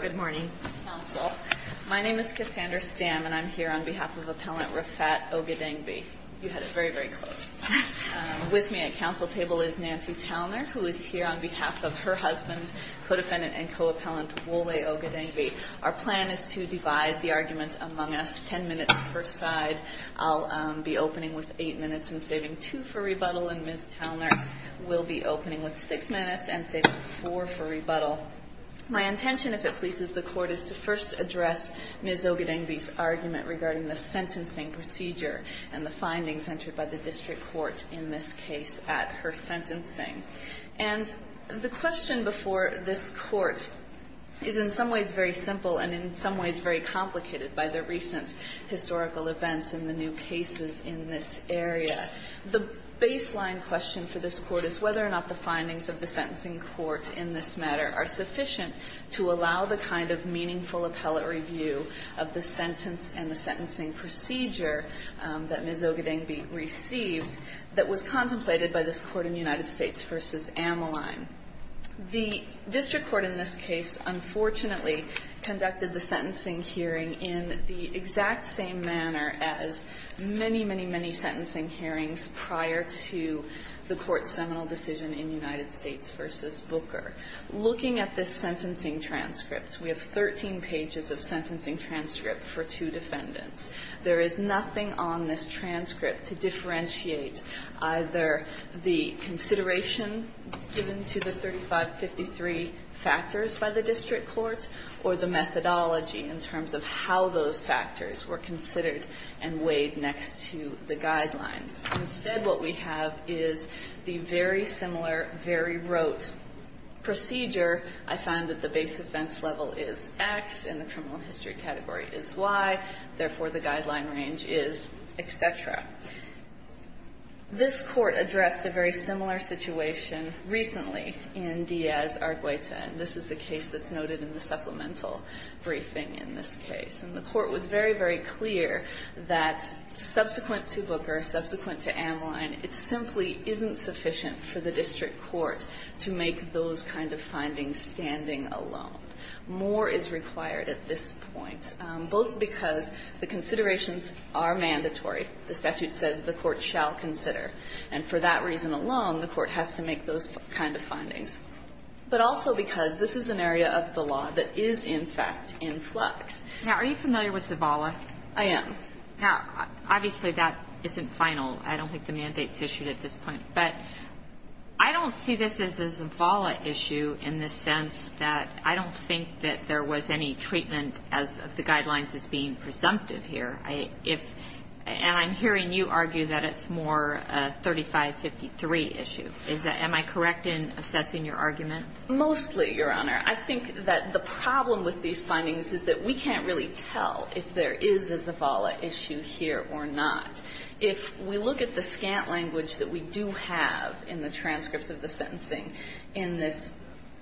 Good morning. My name is Cassandra Stamm and I'm here on behalf of Appellant Rafat Ogedengbe. You had it very very close. With me at council table is Nancy Talner who is here on behalf of her husband, co-defendant and co-appellant Wole Ogedengbe. Our plan is to divide the arguments among us ten minutes per side. I'll be opening with eight minutes and saving two for rebuttal and Ms. Ogedengbe's argument regarding the sentencing procedure and the findings entered by the district court in this case at her sentencing. And the question before this court is in some ways very simple and in some ways very complicated by the recent historical events and the new cases in this area. The baseline question for this court is whether or not the findings of the sentencing court in this matter are sufficient to allow the kind of meaningful appellate review of the sentence and the sentencing procedure that Ms. Ogedengbe received that was contemplated by this court in United States v. Amalime. The district court in this case unfortunately conducted the sentencing hearing in the exact same manner as many, many, many sentencing hearings prior to the court's seminal decision in United States v. Booker. Looking at this sentencing transcript, we have 13 pages of sentencing transcript for two defendants. There is nothing on this transcript to differentiate either the consideration given to the 3553 factors by the district court or the methodology in terms of how those factors were considered and weighed next to the procedure. I find that the base offense level is X and the criminal history category is Y. Therefore, the guideline range is et cetera. This court addressed a very similar situation recently in Diaz v. Argueta. And this is the case that's noted in the supplemental briefing in this case. And the court was very, very clear that subsequent to Booker, subsequent to Amalime, it simply isn't sufficient for the district court to make those kind of findings standing alone. More is required at this point, both because the considerations are mandatory. The statute says the court shall consider. And for that reason alone, the court has to make those kind of findings. But also because this is an area of the law that is, in fact, in flux. Now, are you familiar with Zavala? I am. Obviously, that isn't final. I don't think the mandate is issued at this point. But I don't see this as a Zavala issue in the sense that I don't think that there was any treatment of the guidelines as being presumptive here. And I'm hearing you argue that it's more a 3553 issue. Am I correct in assessing your argument? Mostly, Your Honor. I think that the problem with these findings is that we can't really tell if there is a Zavala issue here or not. If we look at the scant language that we do have in the transcripts of the sentencing in this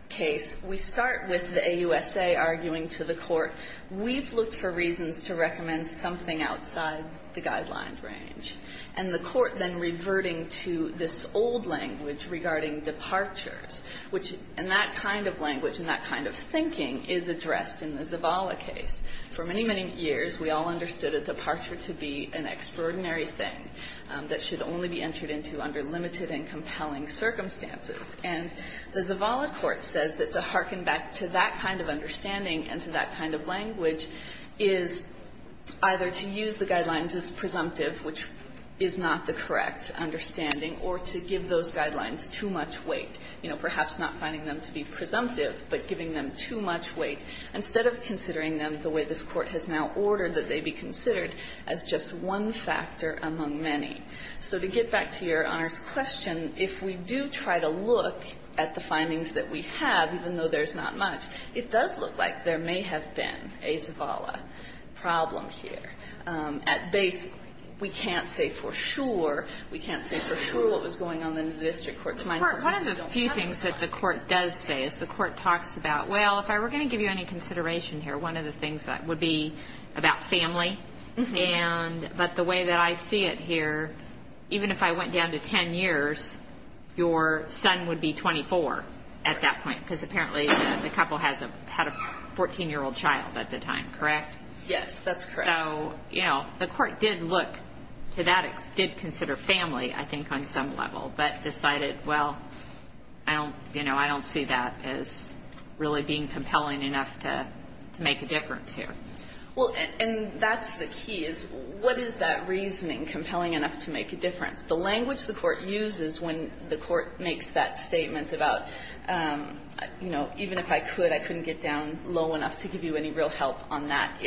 case, we start with the AUSA arguing to the court, we've looked for reasons to recommend something outside the guideline range. And the court then reverting to this old language regarding departures, which in that kind of language, in that kind of thinking, is addressed in the Zavala case. For many, many years, we all understood a departure to be an extraordinary thing that should only be entered into under limited and compelling circumstances. And the Zavala court says that to hearken back to that kind of understanding and to that kind of language is either to use the guidelines as presumptive, which is not the correct understanding, or to give those guidelines too much weight, you know, perhaps not finding them to be presumptive, but giving them too much weight, instead of considering them the way this Court has now ordered that they be considered as just one factor among many. So to get back to Your Honor's question, if we do try to look at the findings that we have, even though there's not much, it does look like there may have been a Zavala problem here. At base, we can't say for sure. We can't say for sure what was going on in the district court's mind. One of the few things that the court does say is the court talks about, well, if I were going to give you any consideration here, one of the things that would be about family, but the way that I see it here, even if I went down to 10 years, your son would be 24 at that point, because apparently the couple had a 14-year-old child at the time, correct? Yes, that's correct. So, you know, the court did look to that, did consider family, I think, on some level, but decided, well, I don't, you know, I don't see that as really being compelling enough to make a difference here. Well, and that's the key, is what is that reasoning compelling enough to make a difference? The language the court uses when the court makes that statement about, you know, even if I could, I couldn't get down low enough to give you any real help on that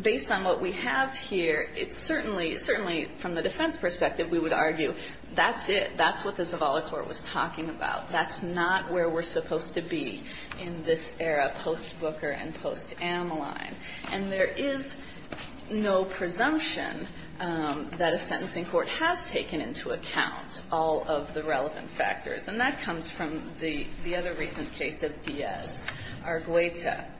Based on what we have here, it's certainly, certainly from the defense perspective, we would argue that's it. That's what the Zavala court was talking about. That's not where we're supposed to be in this era post-Booker and post-Ameline. And there is no presumption that a sentencing court has taken into account all of the relevant factors. And that comes from the other recent case of Diaz, Argueta.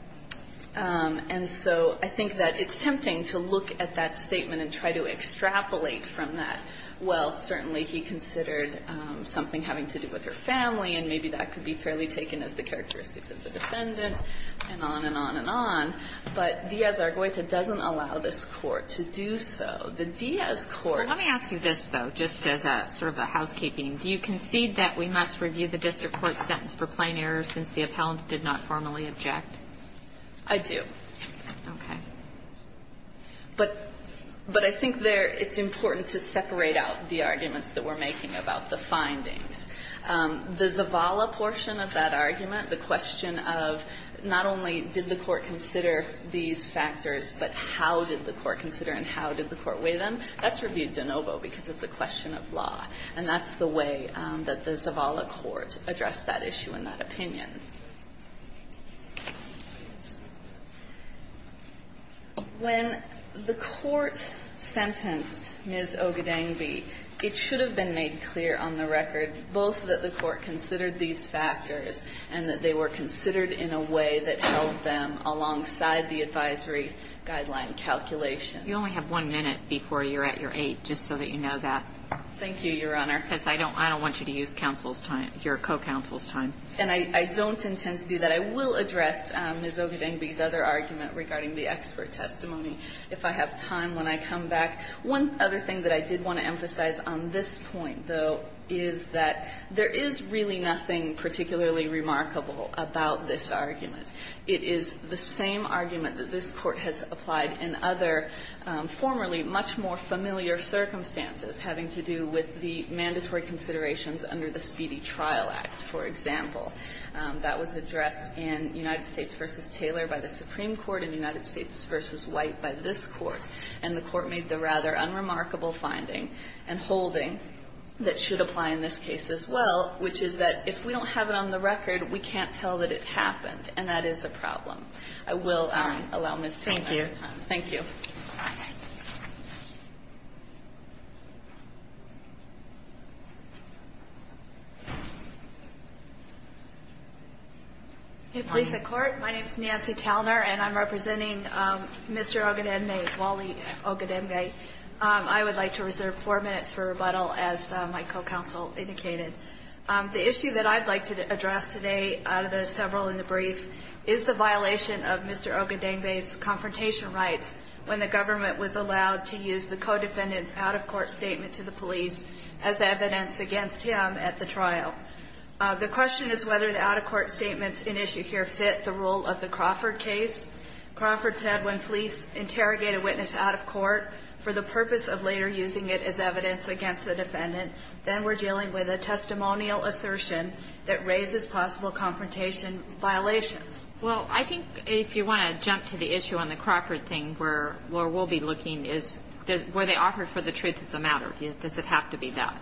And so I think that it's tempting to look at that statement and try to extrapolate from that. Well, certainly he considered something having to do with her family, and maybe that could be fairly taken as the characteristics of the defendant, and on and on and on. But Diaz, Argueta doesn't allow this court to do so. The Diaz court Well, let me ask you this, though, just as a sort of a housekeeping. Do you concede that we must review the district court sentence for plain error since the I do. Okay. But I think there it's important to separate out the arguments that we're making about the findings. The Zavala portion of that argument, the question of not only did the court consider these factors, but how did the court consider and how did the court weigh them, that's reviewed de novo because it's a question of law. And that's the way that the Zavala court addressed that issue and that opinion. When the court sentenced Ms. Ogdenvy, it should have been made clear on the record both that the court considered these factors and that they were considered in a way that held them alongside the advisory guideline calculation. You only have one minute before you're at your eight, just so that you know that. Thank you, Your Honor. Because I don't want you to use counsel's time, your co-counsel's time. And I don't intend to do that. I will address Ms. Ogdenvy's other argument regarding the expert testimony if I have time when I come back. One other thing that I did want to emphasize on this point, though, is that there is really nothing particularly remarkable about this argument. It is the same argument that this Court has applied in other formerly much more familiar circumstances having to do with the mandatory considerations under the That was addressed in United States v. Taylor by the Supreme Court and United States v. White by this Court. And the Court made the rather unremarkable finding and holding that should apply in this case as well, which is that if we don't have it on the record, we can't tell that it happened. And that is the problem. I will allow Ms. Taylor her time. Thank you. Thank you. Hey, police and court. My name is Nancy Talner, and I'm representing Mr. Ogdenvy, Wally Ogdenvy. I would like to reserve four minutes for rebuttal, as my co-counsel indicated. The issue that I'd like to address today out of the several in the brief is the violation of Mr. Ogdenvy's confrontation rights when the government was allowed to use the co-defendant's out-of-court statement to the police as evidence against him at the trial. The question is whether the out-of-court statements in issue here fit the role of the Crawford case. Crawford said when police interrogate a witness out of court for the purpose of later using it as evidence against the defendant, then we're dealing with a testimonial assertion that raises possible confrontation violations. Well, I think if you want to jump to the issue on the Crawford thing, where we'll be looking, is were they offered for the truth of the matter? Does it have to be that?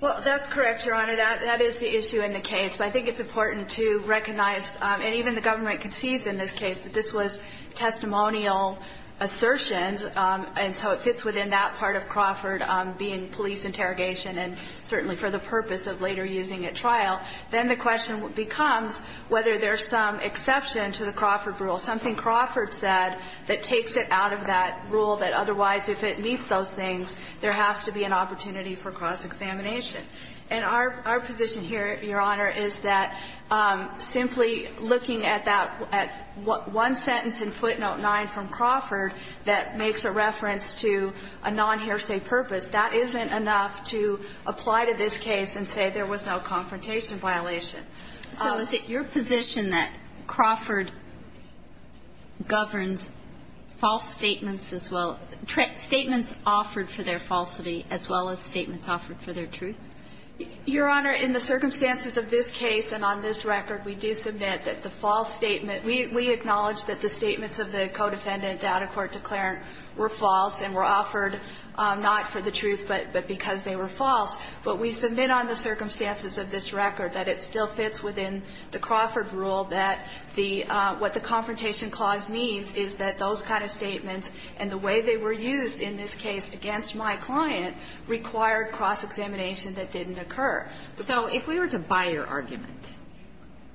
Well, that's correct, Your Honor. That is the issue in the case. But I think it's important to recognize, and even the government concedes in this case, that this was testimonial assertions, and so it fits within that part of Crawford being police interrogation and certainly for the purpose of later using at trial. Then the question becomes whether there's some exception to the Crawford rule, something Crawford said that takes it out of that rule, that otherwise if it meets those things, there has to be an opportunity for cross-examination. And our position here, Your Honor, is that simply looking at that one sentence in footnote 9 from Crawford that makes a reference to a non-hairsay purpose, that isn't enough to apply to this case and say there was no confrontation violation. So is it your position that Crawford governs false statements as well as the statements offered for their truth? Your Honor, in the circumstances of this case and on this record, we do submit that the false statement we acknowledge that the statements of the co-defendant down in court declarant were false and were offered not for the truth, but because they were false. But we submit on the circumstances of this record that it still fits within the Crawford rule that the what the confrontation clause means is that those kind of statements and the way they were used in this case against my client required cross-examination that didn't occur. So if we were to buy your argument,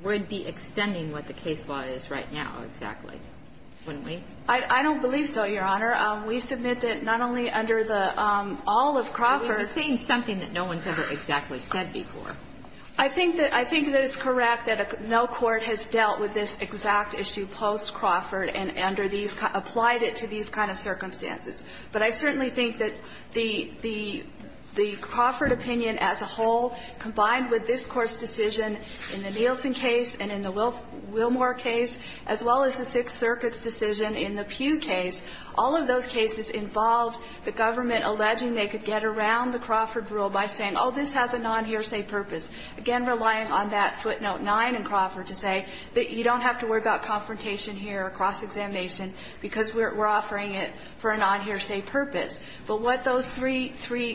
we'd be extending what the case law is right now, exactly, wouldn't we? I don't believe so, Your Honor. We submit that not only under the all of Crawford. You're saying something that no one's ever exactly said before. I think that it's correct that no court has dealt with this exact issue post-Crawford and under these applied it to these kind of circumstances. But I certainly think that the Crawford opinion as a whole, combined with this Court's decision in the Nielsen case and in the Wilmore case, as well as the Sixth Circuit's decision in the Pugh case, all of those cases involved the government alleging they could get around the Crawford rule by saying, oh, this has a non-hearsay purpose, again, relying on that footnote 9 in Crawford to say that you don't have to worry about confrontation here, cross-examination, because we're offering it for a non-hearsay purpose. But what those three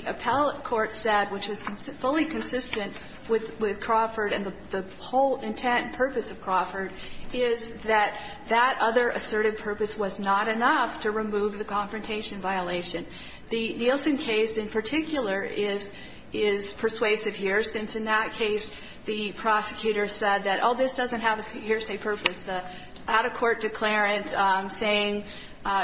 appellate courts said, which was fully consistent with Crawford and the whole intent and purpose of Crawford, is that that other assertive purpose was not enough to remove the confrontation violation. The Nielsen case, in particular, is persuasive here, since in that case, the prosecutor said that, oh, this doesn't have a hearsay purpose. The out-of-court declarant saying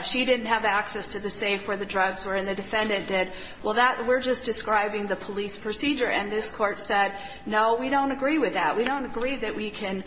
she didn't have access to the safe or the drugs or the defendant did, well, that we're just describing the police procedure. And this Court said, no, we don't agree with that. We don't agree that we can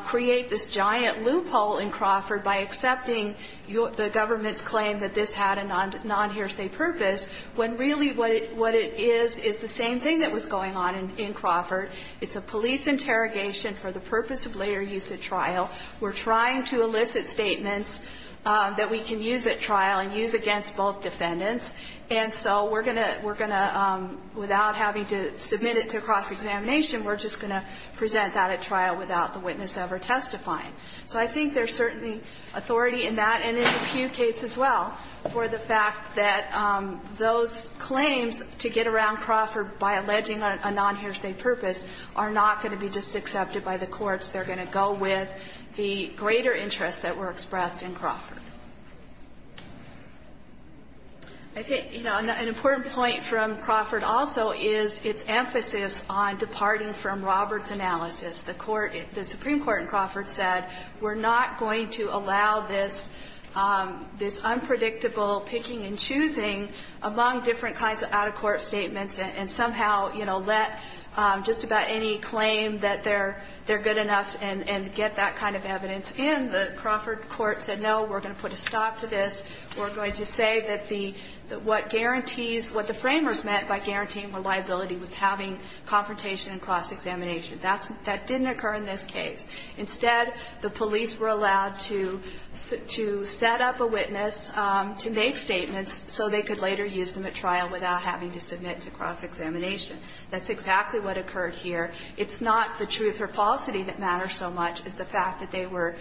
create this giant loophole in Crawford by accepting the government's claim that this had a non-hearsay purpose, when really what it is is the same thing that was going on in Crawford. It's a police interrogation for the purpose of later use at trial. We're trying to elicit statements that we can use at trial and use against both defendants. And so we're going to – we're going to, without having to submit it to cross-examination, we're just going to present that at trial without the witness ever testifying. So I think there's certainly authority in that and in the Pugh case as well for the are not going to be just accepted by the courts. They're going to go with the greater interests that were expressed in Crawford. I think, you know, an important point from Crawford also is its emphasis on departing from Roberts' analysis. The court – the Supreme Court in Crawford said we're not going to allow this – this unpredictable picking and choosing among different kinds of out-of-court statements and somehow, you know, let just about any claim that they're good enough and get that kind of evidence in. The Crawford court said, no, we're going to put a stop to this. We're going to say that the – what guarantees – what the framers meant by guaranteeing reliability was having confrontation and cross-examination. That didn't occur in this case. Instead, the police were allowed to set up a witness to make statements so they could later use them at trial without having to submit to cross-examination. That's exactly what occurred here. It's not the truth or falsity that matters so much as the fact that they were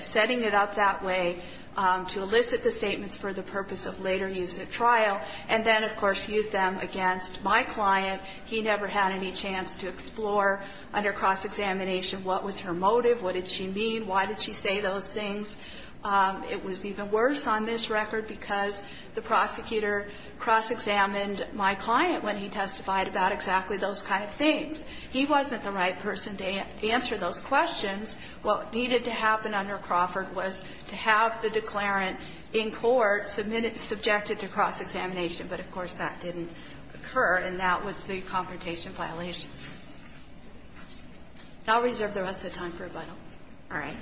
setting it up that way to elicit the statements for the purpose of later use at trial and then, of course, use them against my client. He never had any chance to explore under cross-examination what was her motive, what did she mean, why did she say those things. It was even worse on this record because the prosecutor cross-examined my client when he testified about exactly those kind of things. He wasn't the right person to answer those questions. What needed to happen under Crawford was to have the declarant in court submitted – subjected to cross-examination, but, of course, that didn't occur, and that was the confrontation violation. I'll reserve the rest of the time for rebuttal. All right.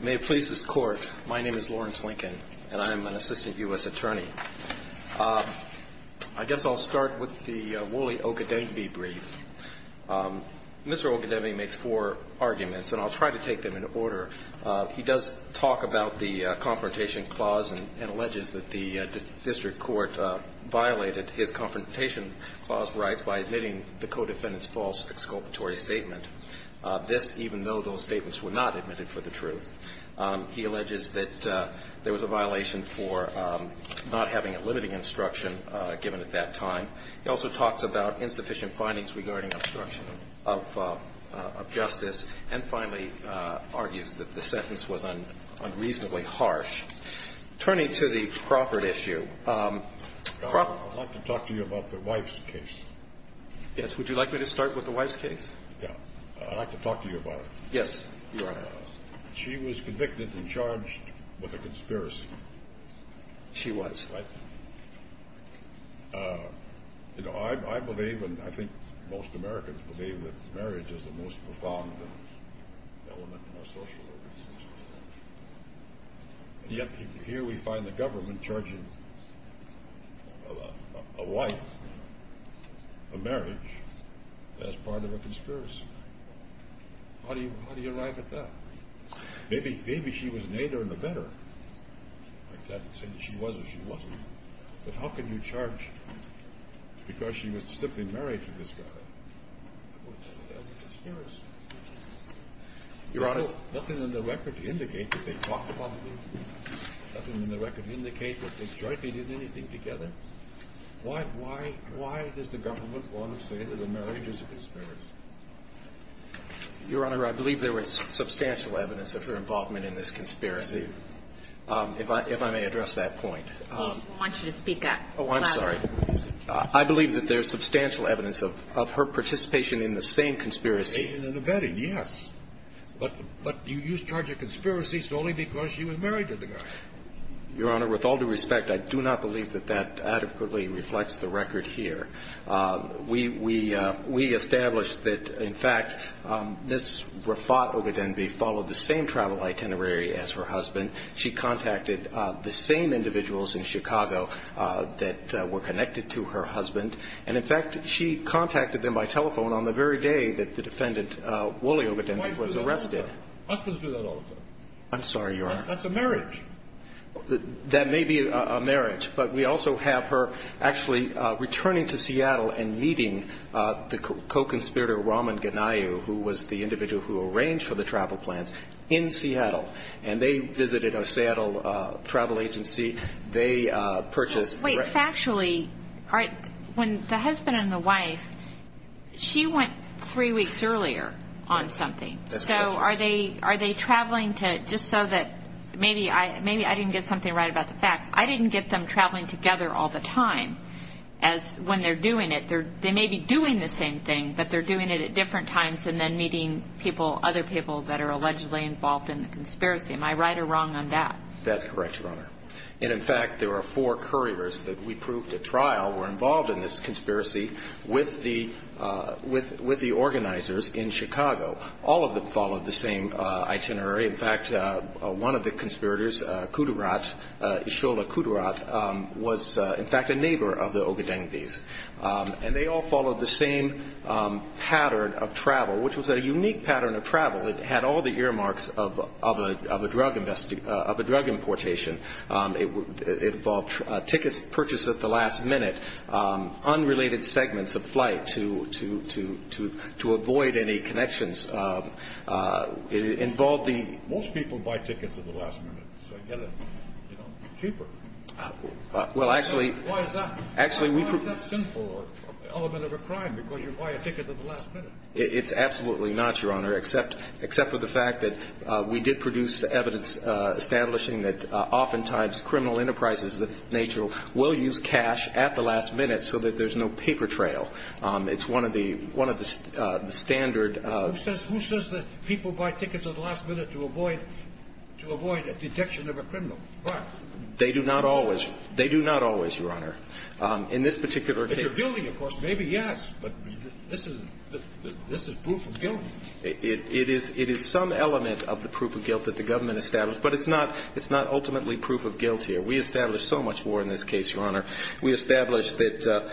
May it please this Court, my name is Lawrence Lincoln, and I am an assistant U.S. attorney. I guess I'll start with the Woolley-Okedembe brief. Mr. Okedembe makes four arguments, and I'll try to take them in order. He does talk about the confrontation clause and alleges that the district court violated his confrontation clause rights by admitting the co-defendant's false exculpatory statement. This, even though those statements were not admitted for the truth, he alleges that there was a violation for not having a limiting instruction given at that time. He also talks about insufficient findings regarding obstruction of justice, and finally, argues that the sentence was unreasonably harsh. Turning to the Crawford issue, Crawford – I'd like to talk to you about the wife's case. Yes. Would you like me to start with the wife's case? Yeah. I'd like to talk to you about it. Yes, Your Honor. She was convicted and charged with a conspiracy. She was. Right. You know, I believe, and I think most Americans believe, that marriage is the most important element in our social lives. And yet, here we find the government charging a wife, a marriage, as part of a conspiracy. How do you arrive at that? Maybe she was an aider in the veteran. I can't say that she was or she wasn't. But how can you charge because she was simply married to this guy? It was a conspiracy. Your Honor. Nothing in the record indicates that they talked about the marriage. Nothing in the record indicates that they jointly did anything together. Why does the government want to say that the marriage is a conspiracy? Your Honor, I believe there is substantial evidence of her involvement in this conspiracy. I see. If I may address that point. I want you to speak up. Oh, I'm sorry. I believe that there is substantial evidence of her participation in the same conspiracy. In the vetting, yes. But you charge a conspiracy solely because she was married to the guy. Your Honor, with all due respect, I do not believe that that adequately reflects the record here. We established that, in fact, Ms. Rafat Ogadenbi followed the same travel itinerary as her husband. She contacted the same individuals in Chicago that were connected to her husband. And, in fact, she contacted them by telephone on the very day that the defendant, Wally Ogadenbi, was arrested. Why do husbands do that all the time? I'm sorry, Your Honor. That's a marriage. That may be a marriage. But we also have her actually returning to Seattle and meeting the co-conspirator, Raman Ganayu, who was the individual who arranged for the travel plans in Seattle. And they visited a Seattle travel agency. They purchased... Wait. Factually, when the husband and the wife, she went three weeks earlier on something. So are they traveling to just so that maybe I didn't get something right about the facts. I didn't get them traveling together all the time as when they're doing it. They may be doing the same thing, but they're doing it at different times and then meeting people, other people that are allegedly involved in the conspiracy. Am I right or wrong on that? That's correct, Your Honor. And in fact, there are four couriers that we proved at trial were involved in this conspiracy with the organizers in Chicago. All of them followed the same itinerary. In fact, one of the conspirators, Kudrat, Ishola Kudrat, was in fact a neighbor of the Ogadenbis. pattern of travel. It had all the earmarks of a drug importation. It involved tickets purchased at the last minute. Unrelated segments of flight to avoid any connections. It involved the... Most people buy tickets at the last minute. So I get it cheaper. Well, actually... Why is that? Actually, we... Why is that a sinful element of a crime because you buy a ticket at the last minute? It's absolutely not, Your Honor, except for the fact that we did produce evidence establishing that oftentimes criminal enterprises of that nature will use cash at the last minute so that there's no paper trail. It's one of the standard... Who says that people buy tickets at the last minute to avoid a detection of a criminal? Why? They do not always, Your Honor. In this particular case... In this particular building, of course, maybe, yes. But this is proof of guilt. It is some element of the proof of guilt that the government established. But it's not ultimately proof of guilt here. We established so much more in this case, Your Honor. We established that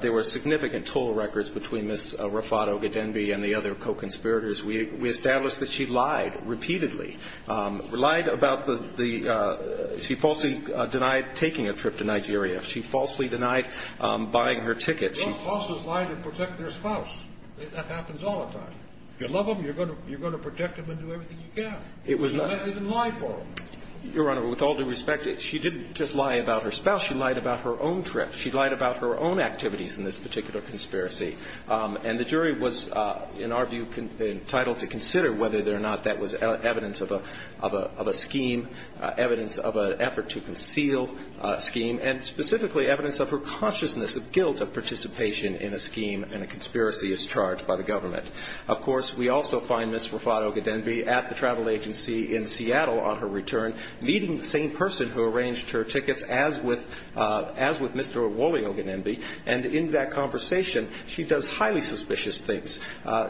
there were significant toll records between Ms. Rafat Ogadenbi and the other co-conspirators. We established that she lied repeatedly. Lied about the... She falsely denied taking a trip to Nigeria. She falsely denied buying her ticket. Those falses lie to protect their spouse. That happens all the time. If you love them, you're going to protect them and do everything you can. She didn't lie for them. Your Honor, with all due respect, she didn't just lie about her spouse. She lied about her own trip. She lied about her own activities in this particular conspiracy. And the jury was, in our view, entitled to consider whether or not that was evidence of a scheme, evidence of an effort to conceal a scheme, and specifically evidence of her consciousness of guilt of participation in a scheme and a conspiracy as charged by the government. Of course, we also find Ms. Rafat Ogadenbi at the travel agency in Seattle on her return, meeting the same person who arranged her tickets as with Mr. Wally Ogadenbi. And in that conversation, she does highly suspicious things.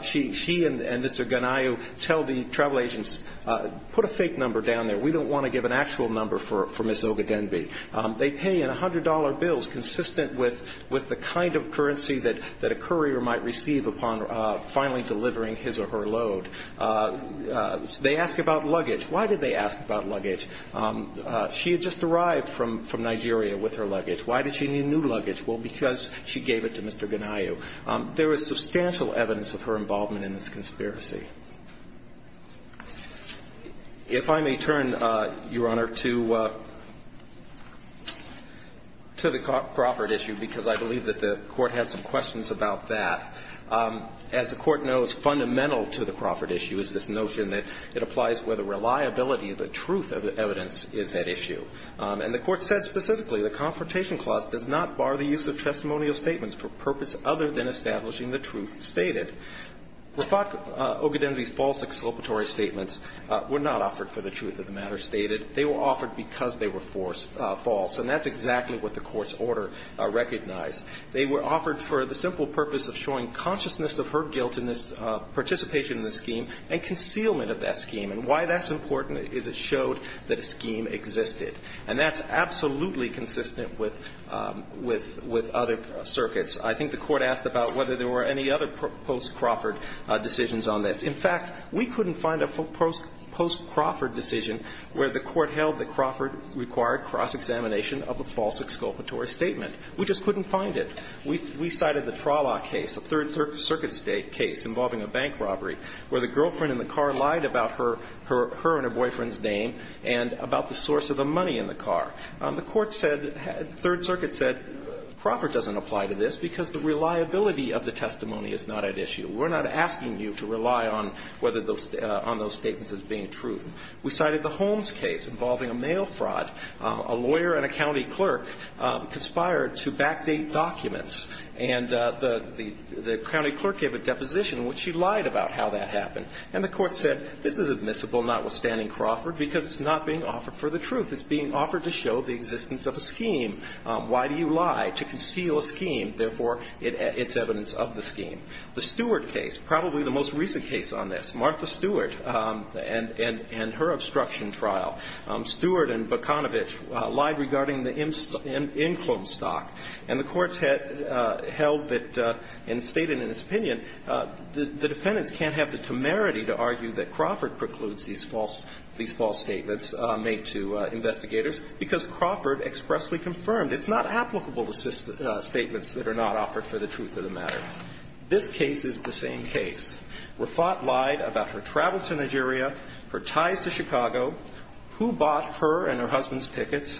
She and Mr. Gunayu tell the travel agents, put a fake number down there. We don't want to give an actual number for Ms. Ogadenbi. They pay in $100 bills consistent with the kind of currency that a courier might receive upon finally delivering his or her load. They ask about luggage. Why did they ask about luggage? She had just arrived from Nigeria with her luggage. Why did she need new luggage? Well, because she gave it to Mr. Gunayu. There is substantial evidence of her involvement in this conspiracy. If I may turn, Your Honor, to the Crawford issue because I believe that the Court had some questions about that. As the Court knows, fundamental to the Crawford issue is this notion that it applies where the reliability of the truth of the evidence is at issue. And the Court said specifically the Confrontation Clause does not bar the use of testimonial statements for purpose other than establishing the truth stated. Rafat Ogadenbi's false exculpatory statements were not offered for the truth of the matter stated. They were offered because they were false. And that's exactly what the Court's order recognized. They were offered for the simple purpose of showing consciousness of her guilt in this participation in the scheme and concealment of that scheme. And why that's important is it showed that a scheme existed. And that's absolutely consistent with other circuits. I think the Court asked about whether there were any other post-Crawford decisions on this. In fact, we couldn't find a post-Crawford decision where the Court held that Crawford required cross-examination of a false exculpatory statement. We just couldn't find it. We cited the Trollach case, a Third Circuit case involving a bank robbery, where the girlfriend in the car lied about her and her boyfriend's name and about the source of the money in the car. The Court said, Third Circuit said, Crawford doesn't apply to this because the reliability of the testimony is not at issue. We're not asking you to rely on whether those statements are being true. We cited the Holmes case involving a mail fraud. A lawyer and a county clerk conspired to backdate documents. And the county clerk gave a deposition in which she lied about how that happened. And the Court said, this is admissible, notwithstanding Crawford, because it's not being offered for the truth. It's being offered to show the existence of a scheme. Why do you lie? To conceal a scheme. Therefore, it's evidence of the scheme. The Stewart case, probably the most recent case on this, Martha Stewart and her obstruction trial. Stewart and Bukanovich lied regarding the inkling stock. And the Court held that, and stated in its opinion, the defendants can't have the temerity to argue that Crawford precludes these false statements made to investigators because Crawford expressly confirmed it's not applicable to statements that are not offered for the truth of the matter. This case is the same case. Rafat lied about her travel to Nigeria, her ties to Chicago, who bought her and her husband's tickets,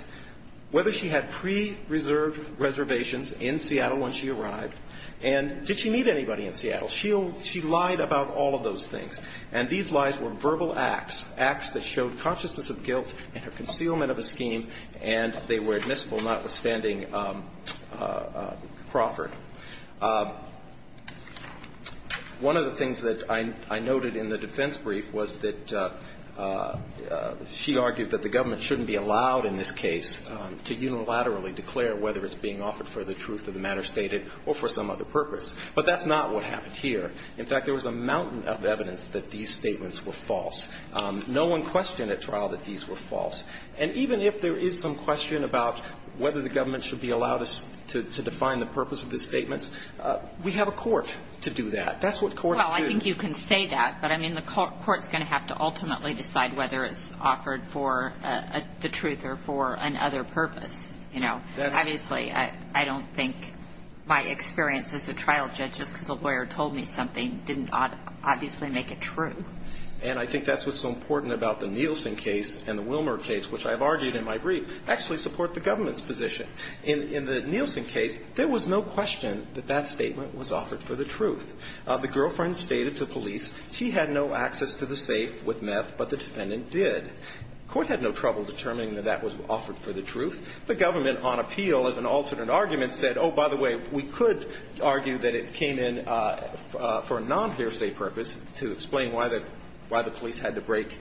whether she had pre-reserved reservations in Seattle when she arrived, and did she meet anybody in Seattle. She lied about all of those things. And these lies were verbal acts, acts that showed consciousness of guilt and her concealment of a scheme, and they were admissible, notwithstanding Crawford. One of the things that I noted in the defense brief was that she argued that the government shouldn't be allowed in this case to unilaterally declare whether it's being offered for the truth of the matter stated or for some other purpose. But that's not what happened here. In fact, there was a mountain of evidence that these statements were false. No one questioned at trial that these were false. And even if there is some question about whether the government should be allowed to define the purpose of the statement, we have a court to do that. That's what courts do. Well, I think you can say that, but the court's going to have to ultimately decide whether it's offered for the truth or for another purpose. Obviously, I don't think my experience as a trial judge, just because a lawyer told me something, didn't obviously make it true. And I think that's what's so important about the Nielsen case and the Wilmer case, which I've argued in my brief, actually support the government's position. In the Nielsen case, there was no question that that statement was offered for the truth. The girlfriend stated to police she had no access to the safe with meth, but the defendant did. Court had no trouble determining that that was offered for the truth. The government, on appeal, as an alternate argument, said, oh, by the way, we could argue that it came in for a non-hearsay purpose to explain why the police had to break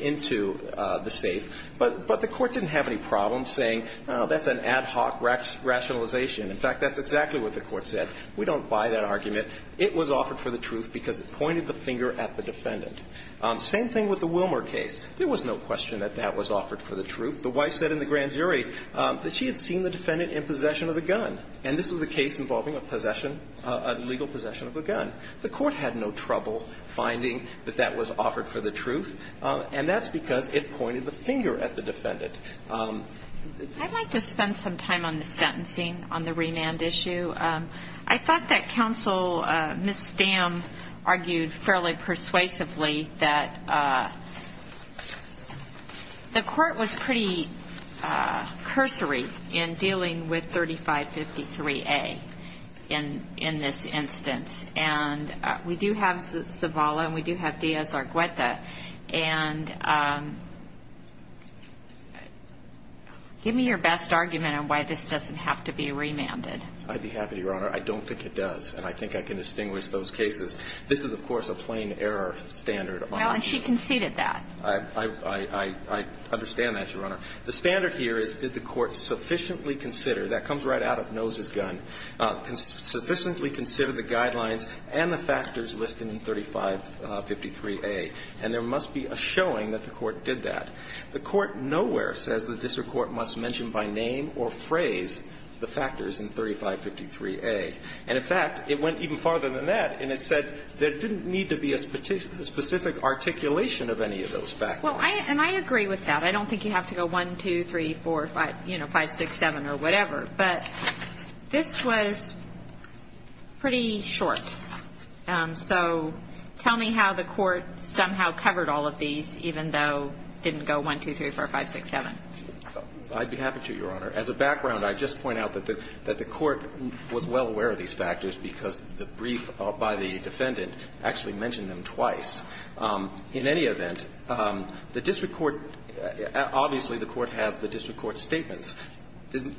into the safe. But the court didn't have any problems saying, oh, that's an ad hoc rationalization. In fact, that's exactly what the court said. We don't buy that argument. It was offered for the truth because it pointed the finger at the defendant. Same thing with the Wilmer case. There was no question that that was offered for the truth. The wife said in the grand jury that she had seen the defendant in possession of the gun. And this was a case involving a possession, a legal possession of a gun. The court had no trouble finding that that was offered for the truth. And that's because it pointed the finger at the defendant. I'd like to spend some time on the sentencing, on the remand issue. I thought that Counsel Ms. Stamm argued fairly persuasively that the court was pretty cursory in dealing with 3553A in this instance. And we do have Zavala and we do have Diaz-Argueta. And give me your best argument on why this doesn't have to be remanded. I'd be happy to, Your Honor. I don't think it does. And I think I can distinguish those cases. This is, of course, a plain error standard. Well, and she conceded that. I understand that, Your Honor. The standard here is, did the court sufficiently consider that comes right out of Noe's gun sufficiently consider the guidelines and the factors listed in 3553A? And there must be a showing that the court did that. The court nowhere says the district court must mention by name or phrase the factors in 3553A. And, in fact, it went even farther than that and it said there didn't need to be a specific articulation of any of those factors. Well, and I agree with that. I don't think you have to go one, two, three, four, five, you know, five, six, seven or whatever. But this was pretty short. So tell me how the court somehow covered all of these even though it didn't go one, two, three, four, five, six, seven. I'd be happy to, Your Honor. As a background, I'd just point out that the court was well aware of these factors because the brief by the defendant actually mentioned them twice. In any event, the district court, obviously the court has the district court's statements.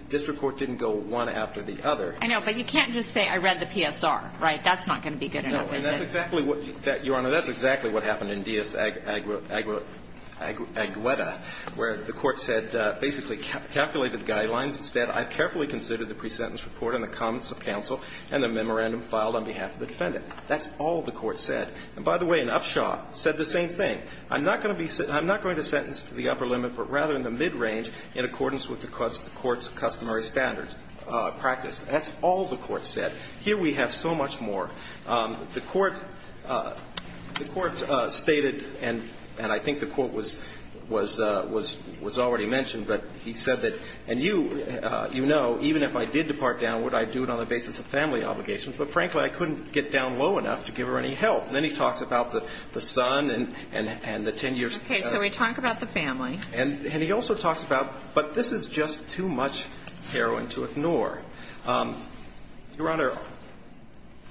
District court didn't go one after the other. I know, but you can't just say I read the PSR, right? That's not going to be good enough, is it? No, and that's exactly what that, Your Honor, that's exactly what happened in Diaz-Agueda where the court said basically calculated the guidelines and said I've carefully considered the pre-sentence report and the comments of counsel and the memorandum filed on behalf of the defendant. That's all the court said. And, by the way, in Upshaw, said the same thing. I'm not going to be I'm not going to sentence to the upper limit but rather in the mid-range in accordance with the court's customary standards practice. That's all the court said. Here we have so much more. The court the court stated and I think the court was was already mentioned but he said that and you know even if I did depart downward I'd do it on the basis of family obligations but, frankly, I couldn't get down low enough to give her any help. Then he talks about the son and the 10 years Okay, so we talk about the family. And he also talks about but this is just too much heroin to ignore. Your Honor,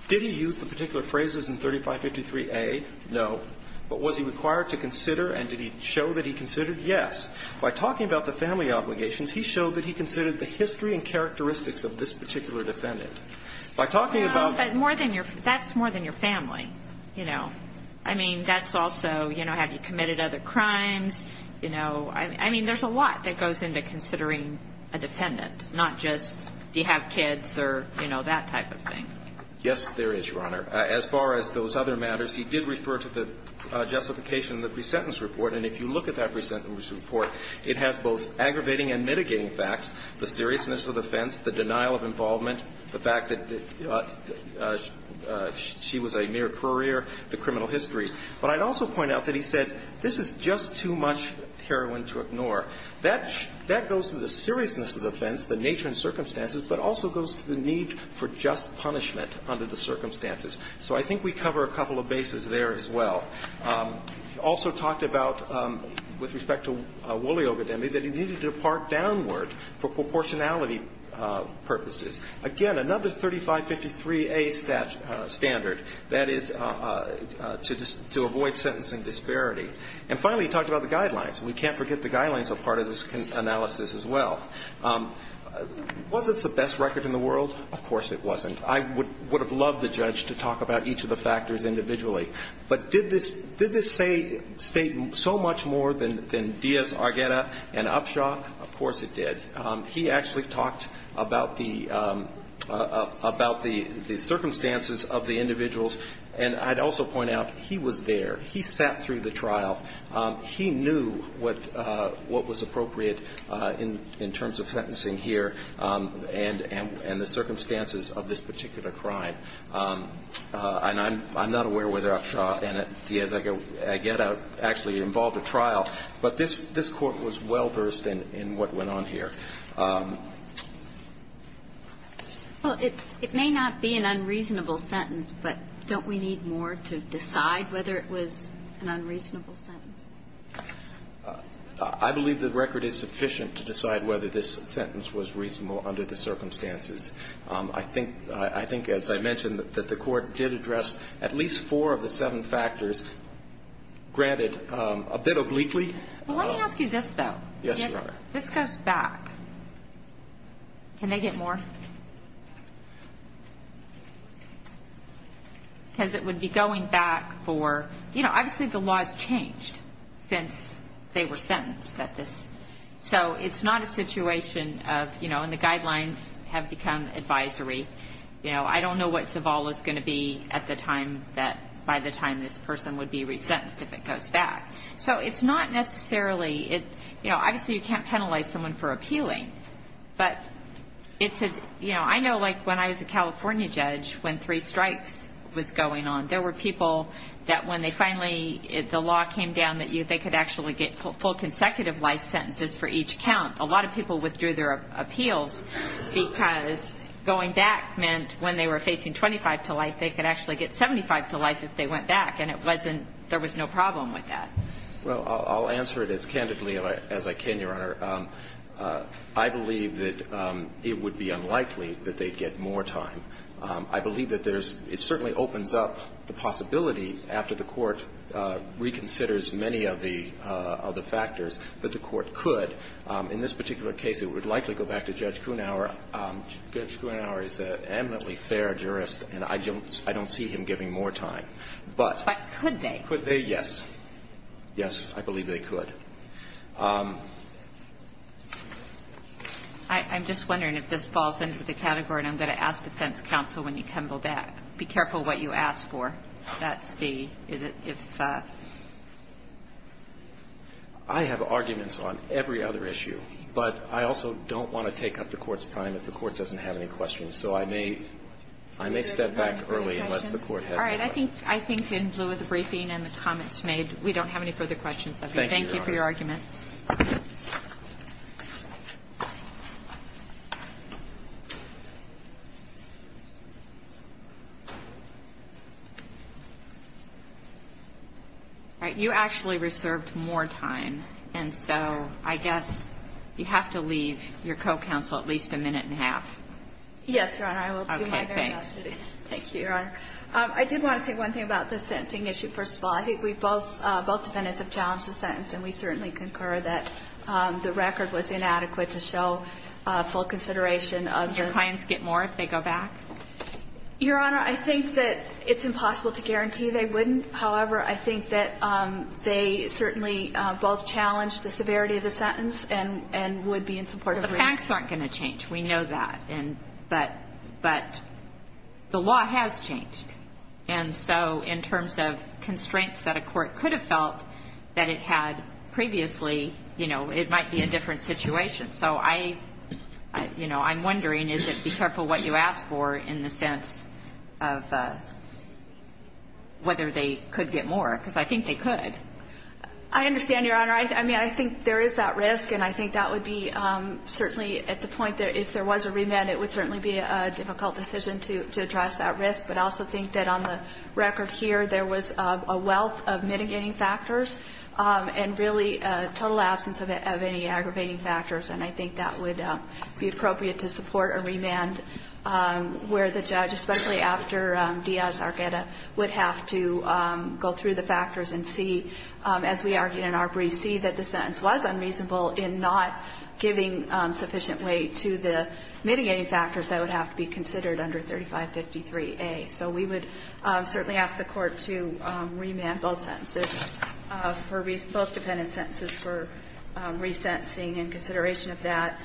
did he use the particular phrases in 3553A? No. But was he required to consider and did he show that he considered? Yes. By talking about the family obligations he showed that he considered the history and characteristics of this particular defendant. By talking about No, but more than your that's more than your family. You know. I mean, that's also you know, have you committed other crimes? You know. I mean, there's a lot that goes into considering a defendant. Not just do you have kids or, you know, that type of thing. Yes, there is, Your Honor. As far as those other matters he did refer to the justification in the pre-sentence report and if you look at that pre-sentence report it has both aggravating and mitigating facts the seriousness of the offense the denial of involvement the fact that she was a mere courier the criminal history. But I'd also point out that he said this is just too much heroin to ignore. That goes to the seriousness of the offense the nature and circumstances but also goes to the need for just punishment under the circumstances. So I think we cover a couple of bases there as well. He also talked about with respect to Woolley Ogedemi that he needed to depart downward for proportionality purposes. Again, another 3553A standard that is to avoid sentencing disparity. And finally he talked about the guidelines and we can't forget the guidelines are part of this analysis as well. Was this the best record in the world? Of course it wasn't. I would have loved the judge to talk about each of the factors individually. But did this state so much more than Diaz, Argueta and Upshaw? Of course it did. He actually talked about the circumstances of the individuals and I'd also point out he was there. He sat through the trial. He knew what was appropriate in terms of sentencing here and the circumstances of this particular crime. And I'm not aware whether Upshaw and Diaz Argueta actually involved a trial. But this court was well versed in what went on here. Well, it may not be an unreasonable sentence but don't we need more to decide whether it was an unreasonable sentence? I believe the record is sufficient to decide whether this sentence was reasonable under the circumstances. I think as I mentioned that the court did address at least four of the seven factors granted a bit obliquely. Let me ask you this though. Yes, Your Honor. Can I ask one more question? Because it would be going back for, you know, obviously the law has changed since they were sentenced at this. So it's not a situation of, you know, and the guidelines have become advisory. You know, I don't know what is going to be at the time that by the time this person would be resentenced if it goes back. So it's not necessarily, you know, obviously you can't penalize someone for appealing. I know when I was a California judge when three strikes was going on, there were people that when they were facing 25 to life, they could actually get 75 to life if they went back. And there was no problem with that. Well, I'll answer it as candidly as I can, Your Honor. I believe that it would be unlikely that they'd get more time. I believe that it certainly opens up the possibility after the Court reconsiders many of the factors that the Court could. In this particular case, it would likely go back to Judge Kuhnauer. Judge Kuhnauer is an eminently fair jurist and I don't see him giving more time. But could they? Could they? Yes. Yes, I believe they could. I'm just wondering if this falls into the category and I'm going to ask defense counsel when you come back. Be careful what you ask for. I have arguments on every other issue, but I also don't want to take up the Court's time if the Court doesn't have any questions. I may step back early. I think in lieu of the briefing and the comments made, we don't have any further questions. Thank you for your argument. You actually reserved more time and so I guess you have to leave your co-counsel at least a minute and a half. I did want to say one thing about the sentencing issue. We concur that the record was inadequate. Your clients get more if they go back? Your Honor, I think it's impossible to guarantee they wouldn't. However, I think that they certainly both challenged the severity of the sentence. The facts aren't going to change. We know that. But the law has changed. So in terms of constraints that a court could have felt that it had previously, it might be a different situation. I'm wondering, be careful what you ask for in the sense of whether they could get more. I think they could. I understand, Your Honor. I think there is that risk. If there was a remand, it would certainly be a difficult decision to address that risk. But I also think that on the record here, there was a wealth of mitigating factors and really total absence of aggravating factors. I think that would be appropriate to support a remand where the sentence is under 3553A. So we would certainly ask the court to remand both sentences for resentencing and consideration of that.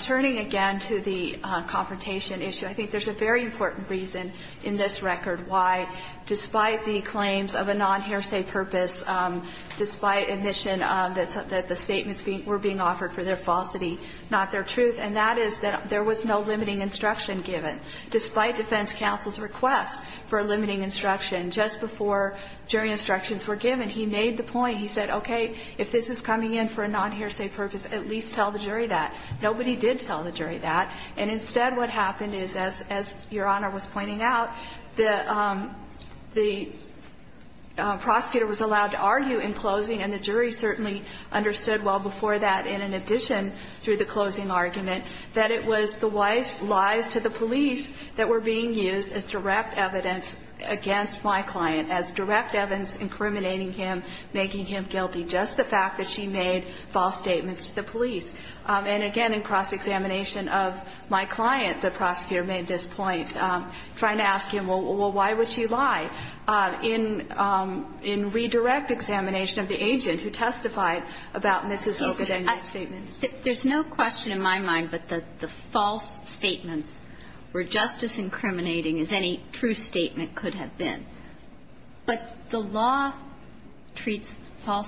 Turning again to the confrontation issue, I think there is a very important reason in this record why, despite the claims of a non- hearsay purpose, despite admission that the statements were being offered for their falsity, not their truth, and that is that there was no limiting instruction given. Despite defense counsel's request for limiting instruction just before jury instructions were given, he made the point, okay, if this is coming in for a non- hearsay purpose, tell the jury that. Nobody did tell the jury that. And, instead, what happened is, as your honor was pointing out, the prosecutor was allowed to argue in closing and the jury certainly understood well before that in addition through the closing argument that it was the wife's lies to the police that were being used as direct evidence against my client as direct evidence incriminating him, making him guilty, just the fact that she made false statements to the police. And, again, in cross examination of my client, the prosecutor made this point, trying to ask him, well, you made false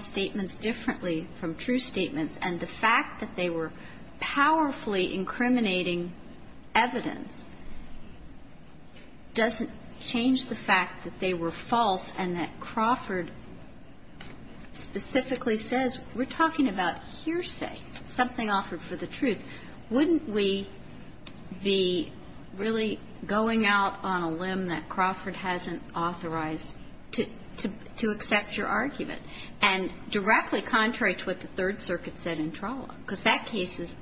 statements differently from true statements and the fact that they were powerfully incriminating evidence doesn't change the fact that they were false and that Crawford specifically says, we're talking about hearsay, something offered for the truth, wouldn't we be really going out on a limb that Crawford hasn't authorized to accept your argument? And directly contrary to what the Third Circuit said in trial, the case was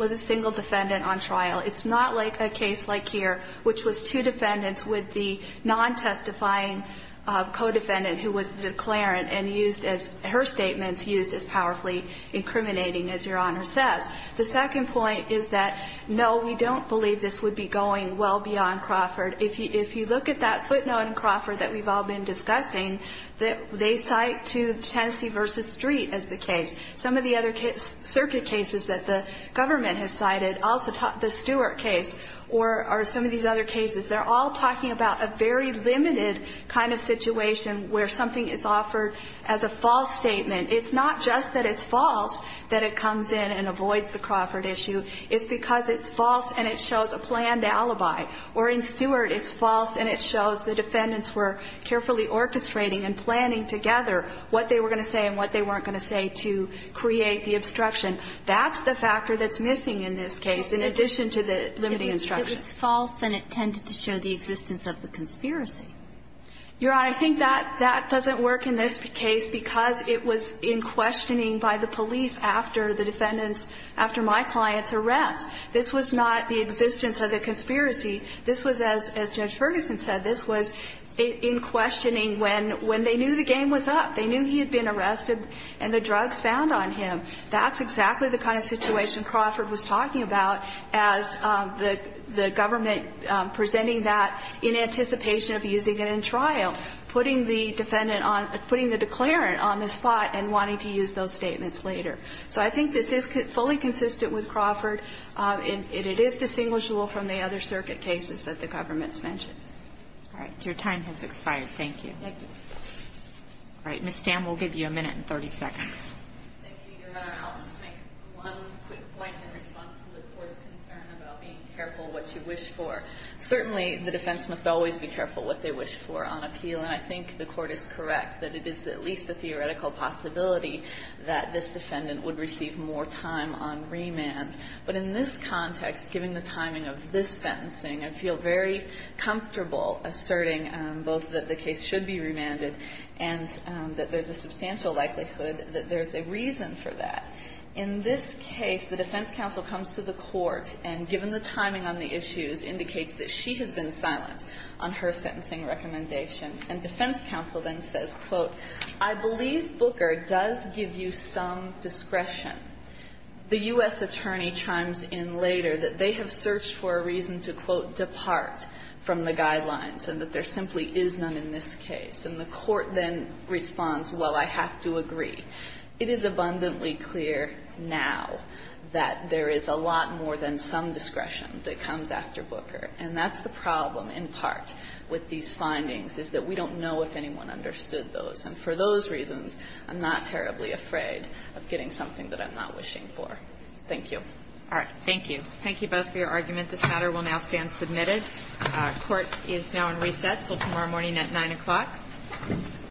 a single defendant on trial. It's not like a case like here, which was two defendants with the non-testifying codefendant who was the declarant and her statements used as powerfully incriminating as your Honor The other cases that the government has cited are all talking about a very limited kind of situation where something is offered as a false statement. It's not just that it's false that it comes in and avoids the question. That's the factor that's missing in this case in addition to the limiting instruction. Your Honor, I think that doesn't work in this case because it was in questioning by the police after my client's arrest. This was not the existence of a conspiracy. This was in questioning when they knew the game was up. They knew he had been arrested and the drugs found on him. That's exactly the kind of situation Crawford was talking about as the government presenting that in anticipation of using it in trial, putting the declarant on the spot and wanting to use those statements later. So I think this is fully consistent with Crawford and it sense. I'll just make one quick point in response to the Court's concern about being careful what you wish for. Certainly the defense must always be careful what they wish for on appeal and I think the Court is correct that it is at least a theoretical possibility that this defendant would receive more time on remand. But in this context given the timing of this sentencing I feel very comfortable asserting both that the case should be remanded and that there's a substantial likelihood that there's a reason for that. In this case the defense counsel comes to the court and indicates that she has been silent on her sentencing recommendation and defense counsel says I believe Booker does give you some discretion the U.S. attorney says and then chimes in later that they have searched for a reason to depart from the guidelines and there simply is none in this case and the court responds well I have to agree it is abundantly clear now that there is a lot more than some discretion that comes after Booker and that's the problem in part with these findings is that we have that there is a lot more in this case and I believe that there is a lot more in lot more in this case and I believe that there is a lot more in this case and I believe